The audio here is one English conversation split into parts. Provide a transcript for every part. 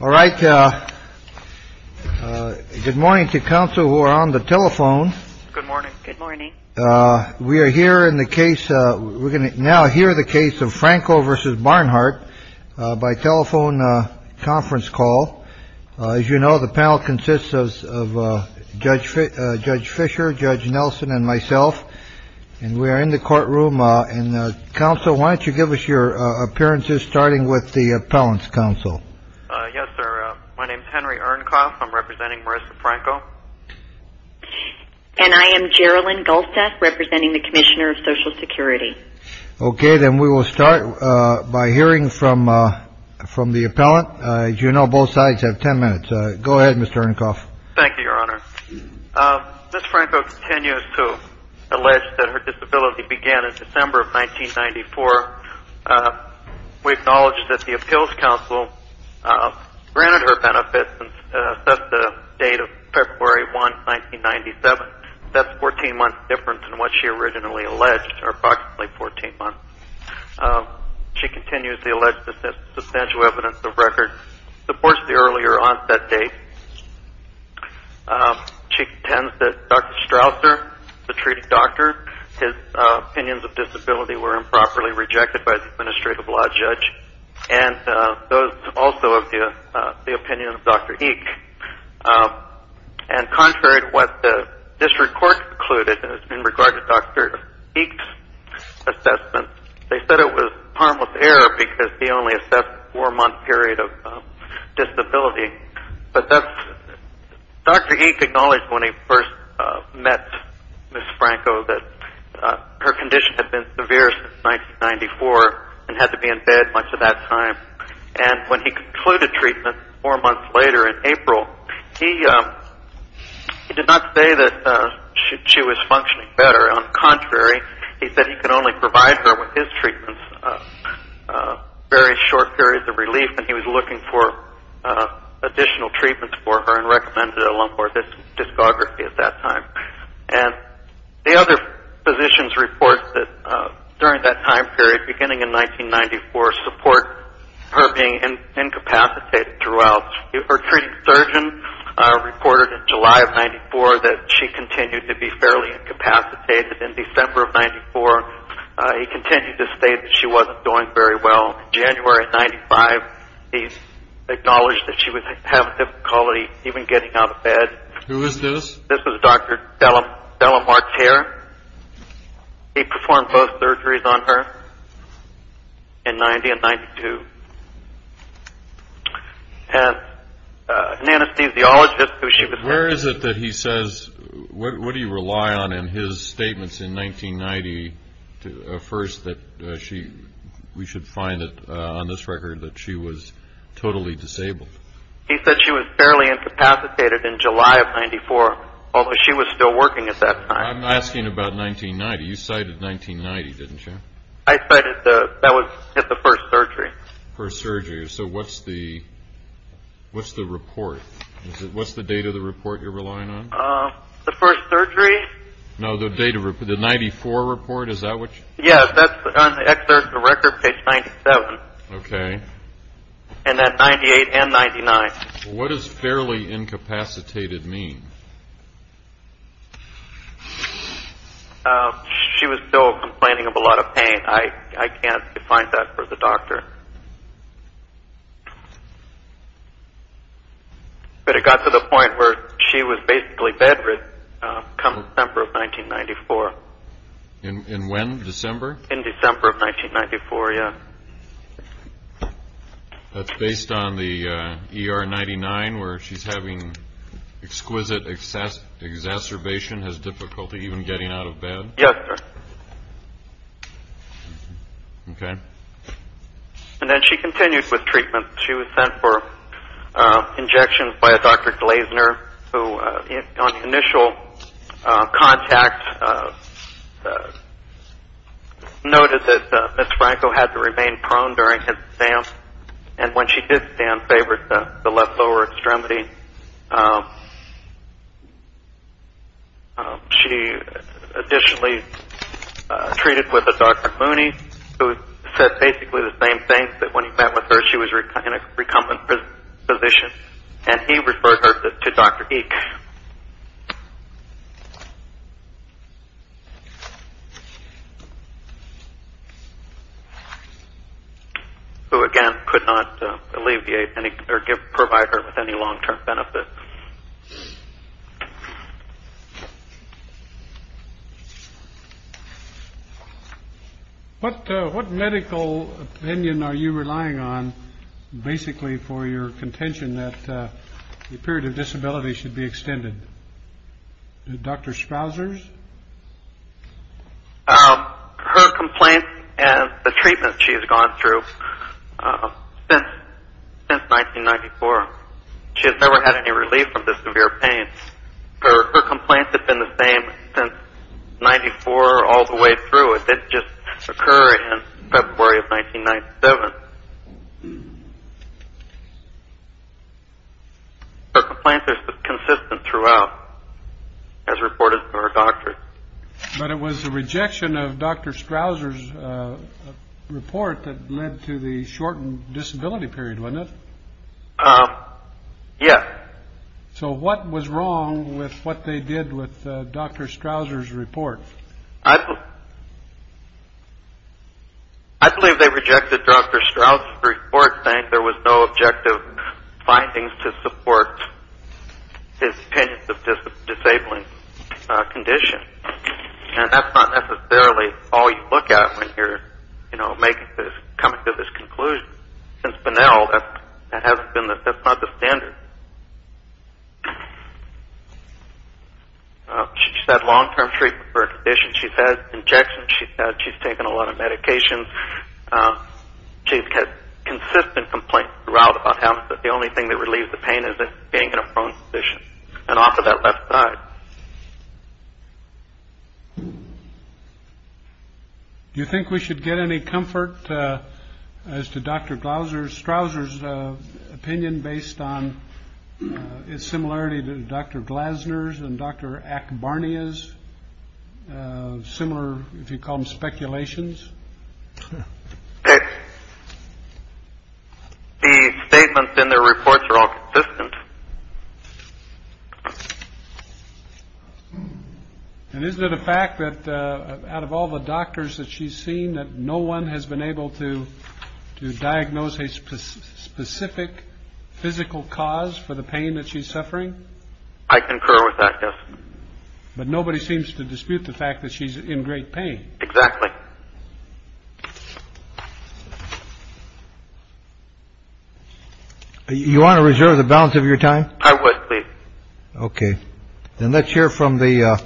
All right. Good morning to counsel who are on the telephone. Good morning. Good morning. We are here in the case. We're going to now hear the case of Franco versus Barnhart by telephone conference call. As you know, the panel consists of Judge Judge Fisher, Judge Nelson and myself. And we are in the courtroom in the council. Why don't you give us your appearances, starting with the appellant's counsel? Yes, sir. My name is Henry Ernkopf. I'm representing Marissa Franco. And I am Geraldine Goldstaff, representing the commissioner of Social Security. OK, then we will start by hearing from from the appellant. As you know, both sides have 10 minutes. Go ahead, Mr. Ernkopf. Thank you, Your Honor. Ms. Franco continues to allege that her disability began in December of 1994. We acknowledge that the appeals counsel granted her benefits and set the date of February 1, 1997. That's 14 months different than what she originally alleged, or approximately 14 months. She continues to allege that substantial evidence of record supports the earlier onset date. She contends that Dr. Strausser, the treating doctor, his opinions of disability were improperly rejected by the administrative law judge. And those also of the opinion of Dr. Eick. And contrary to what the district court concluded in regard to Dr. Eick's assessment, they said it was a harmless error because he only assessed a four-month period of disability. But Dr. Eick acknowledged when he first met Ms. Franco that her condition had been severe since 1994 and had to be in bed much of that time. And when he concluded treatment four months later in April, he did not say that she was functioning better. On the contrary, he said he could only provide her with his treatments for very short periods of relief, and he was looking for additional treatments for her and recommended a lump or discography at that time. And the other physicians report that during that time period, beginning in 1994, support her being incapacitated throughout. Her treating surgeon reported in July of 94 that she continued to be fairly incapacitated. In December of 94, he continued to state that she wasn't doing very well. In January of 95, he acknowledged that she was having difficulty even getting out of bed. Who is this? This is Dr. Della Martire. He performed both surgeries on her in 90 and 92. And an anesthesiologist, who she was- Where is it that he says, what do you rely on in his statements in 1990, first that we should find it on this record that she was totally disabled? He said she was fairly incapacitated in July of 94, although she was still working at that time. I'm asking about 1990. You cited 1990, didn't you? I cited-that was at the first surgery. First surgery. So what's the report? What's the date of the report you're relying on? The first surgery? No, the date of-the 94 report, is that what you- Yes, that's on the excerpt of the record, page 97. Okay. And that 98 and 99. What does fairly incapacitated mean? She was still complaining of a lot of pain. I can't find that for the doctor. But it got to the point where she was basically bedridden come December of 1994. In when, December? In December of 1994, yes. That's based on the ER 99, where she's having exquisite exacerbation, has difficulty even getting out of bed? Yes, sir. Okay. And then she continued with treatment. She was sent for injections by a Dr. Glasner, who, on initial contact, noted that Ms. Franco had to remain prone during his stamps. And when she did stamp, favored the left lower extremity. She additionally treated with a Dr. Mooney, who said basically the same thing, that when he met with her, she was in a recumbent position. And he referred her to Dr. Eick. Who, again, could not alleviate or provide her with any long term benefit. What medical opinion are you relying on, basically, for your contention that the period of disability should be extended? Dr. Spousers? Her complaint and the treatment she's gone through since 1994, she has never had any relief from the severe pain. Her complaints have been the same since 1994 all the way through. It didn't just occur in February of 1997. Her complaints are consistent throughout, as reported to her doctor. But it was the rejection of Dr. Strouser's report that led to the shortened disability period, wasn't it? Yes. So what was wrong with what they did with Dr. Strouser's report? I believe they rejected Dr. Strouser's report, saying there was no objective findings to support his opinions of disabling conditions. And that's not necessarily all you look at when you're coming to this conclusion. Since Bonnell, that's not the standard. She's had long term treatment for her condition. She's had injections. She's taken a lot of medications. She's had consistent complaints throughout about how the only thing that relieves the pain is being in a prone position. And off of that left side. Do you think we should get any comfort as to Dr. Strouser's opinion based on its similarity to Dr. Glasner's and Dr. And isn't it a fact that out of all the doctors that she's seen, that no one has been able to diagnose a specific physical cause for the pain that she's suffering? I concur with that. But nobody seems to dispute the fact that she's in great pain. Exactly. You want to reserve the balance of your time? OK, then let's hear from the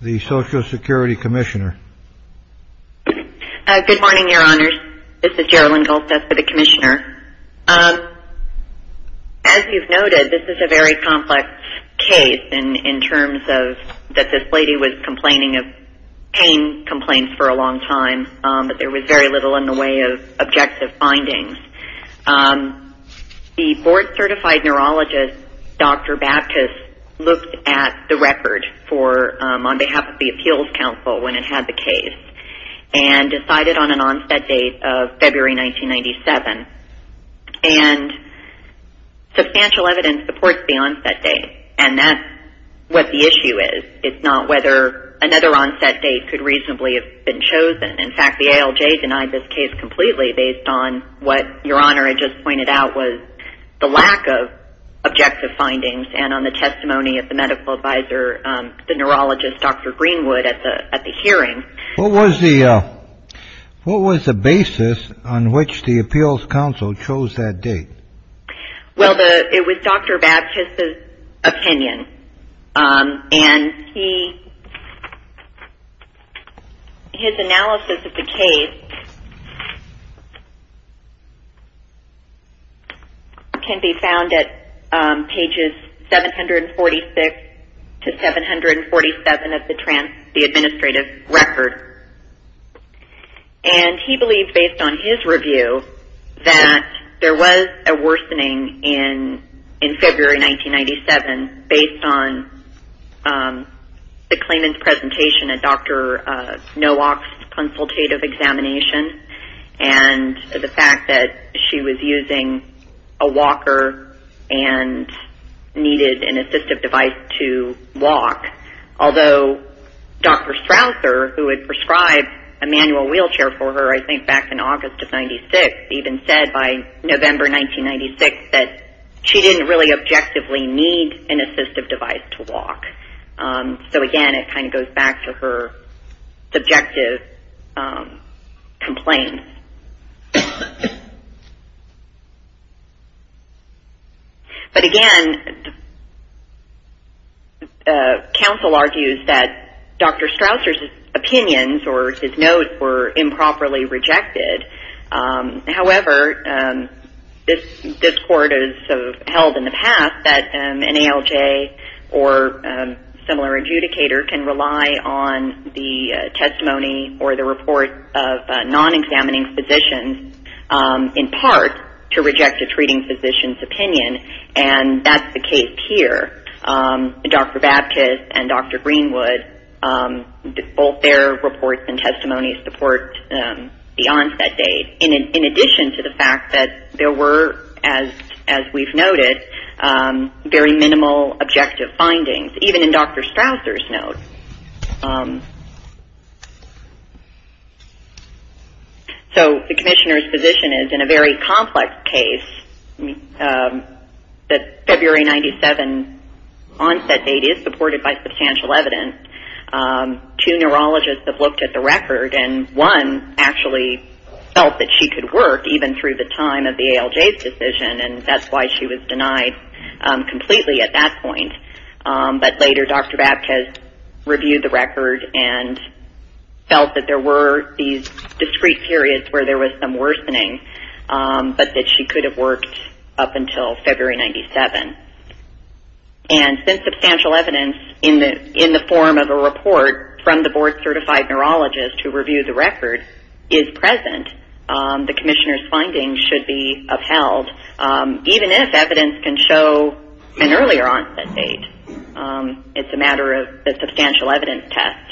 the Social Security commissioner. Good morning, your honors. This is Jeryl and Goldstaff for the commissioner. As you've noted, this is a very complex case in terms of that this lady was complaining of pain complaints for a long time, but there was very little in the way of objective findings. The board certified neurologist, Dr. Baptist, looked at the record on behalf of the appeals council when it had the case and decided on an onset date of February 1997. And substantial evidence supports the onset date. And that's what the issue is. It's not whether another onset date could reasonably have been chosen. In fact, the ALJ denied this case completely based on what your honor had just pointed out was the lack of objective findings and on the testimony of the medical advisor, the neurologist, Dr. Greenwood at the hearing. What was the what was the basis on which the appeals council chose that date? Well, it was Dr. Baptist's opinion. And his analysis of the case can be found at pages 746 to 747 of the administrative record. And he believes, based on his review, that there was a worsening in February 1997 based on the claimant's presentation at Dr. Nowak's consultative examination and the fact that she was using a walker and needed an assistive device to walk. Although Dr. Strasser, who had prescribed a manual wheelchair for her, I think back in August of 96, even said by November 1996 that she didn't really objectively need an assistive device to walk. So again, it kind of goes back to her subjective complaint. But again, the council argues that Dr. Strasser's opinions or his notes were improperly rejected. However, this court has held in the past that an ALJ or similar adjudicator can rely on the testimony or the report of non-examination of treating physicians in part to reject a treating physician's opinion, and that's the case here. Dr. Baptist and Dr. Greenwood, both their reports and testimonies support beyond that date. In addition to the fact that there were, as we've noted, very minimal objective findings, even in Dr. Strasser's notes. So the commissioner's position is, in a very complex case, that February 97 onset date is supported by substantial evidence. Two neurologists have looked at the record, and one actually felt that she could work, even through the time of the ALJ's decision, and that's why she was denied completely at that point. But later Dr. Baptist reviewed the record and felt that there were these discrete periods where there was some worsening, but that she could have worked up until February 97. And since substantial evidence in the form of a report from the board-certified neurologist who reviewed the record is present, the commissioner's findings should be upheld, even if evidence can show an earlier onset date. It's a matter of a substantial evidence test.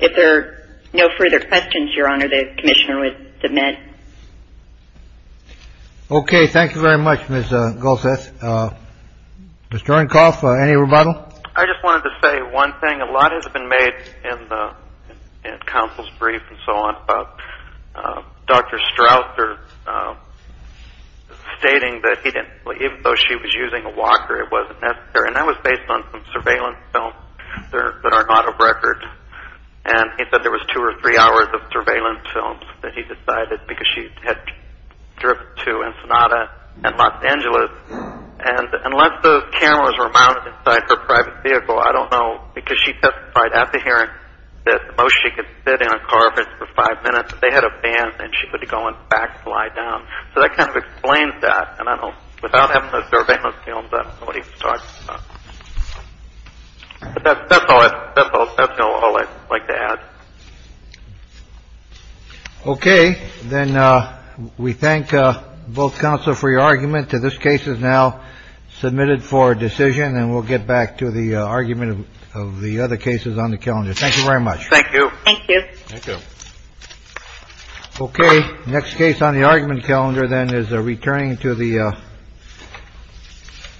If there are no further questions, Your Honor, the commissioner would submit. OK, thank you very much, Ms. Golseth. I just wanted to say one thing. A lot has been made in counsel's brief and so on about Dr. Strasser stating that even though she was using a walker, it wasn't necessary, and that was based on some surveillance films that are not of record. And he said there was two or three hours of surveillance films that he decided because she had driven to Ensenada and Los Angeles, and unless the cameras were mounted inside her private vehicle, I don't know. Because she testified at the hearing that most she could sit in a car for five minutes. They had a van and she could go and backslide down. So that kind of explains that. And I know without having a surveillance film. But that's all I'd like to add. OK, then we thank both counsel for your argument. This case is now submitted for decision and we'll get back to the argument of the other cases on the calendar. Thank you very much. Thank you. Thank you. OK. Next case on the argument calendar then is a returning to the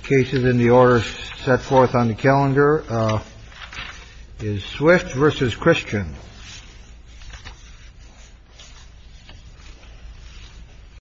cases in the order set forth on the calendar is swift versus Christian.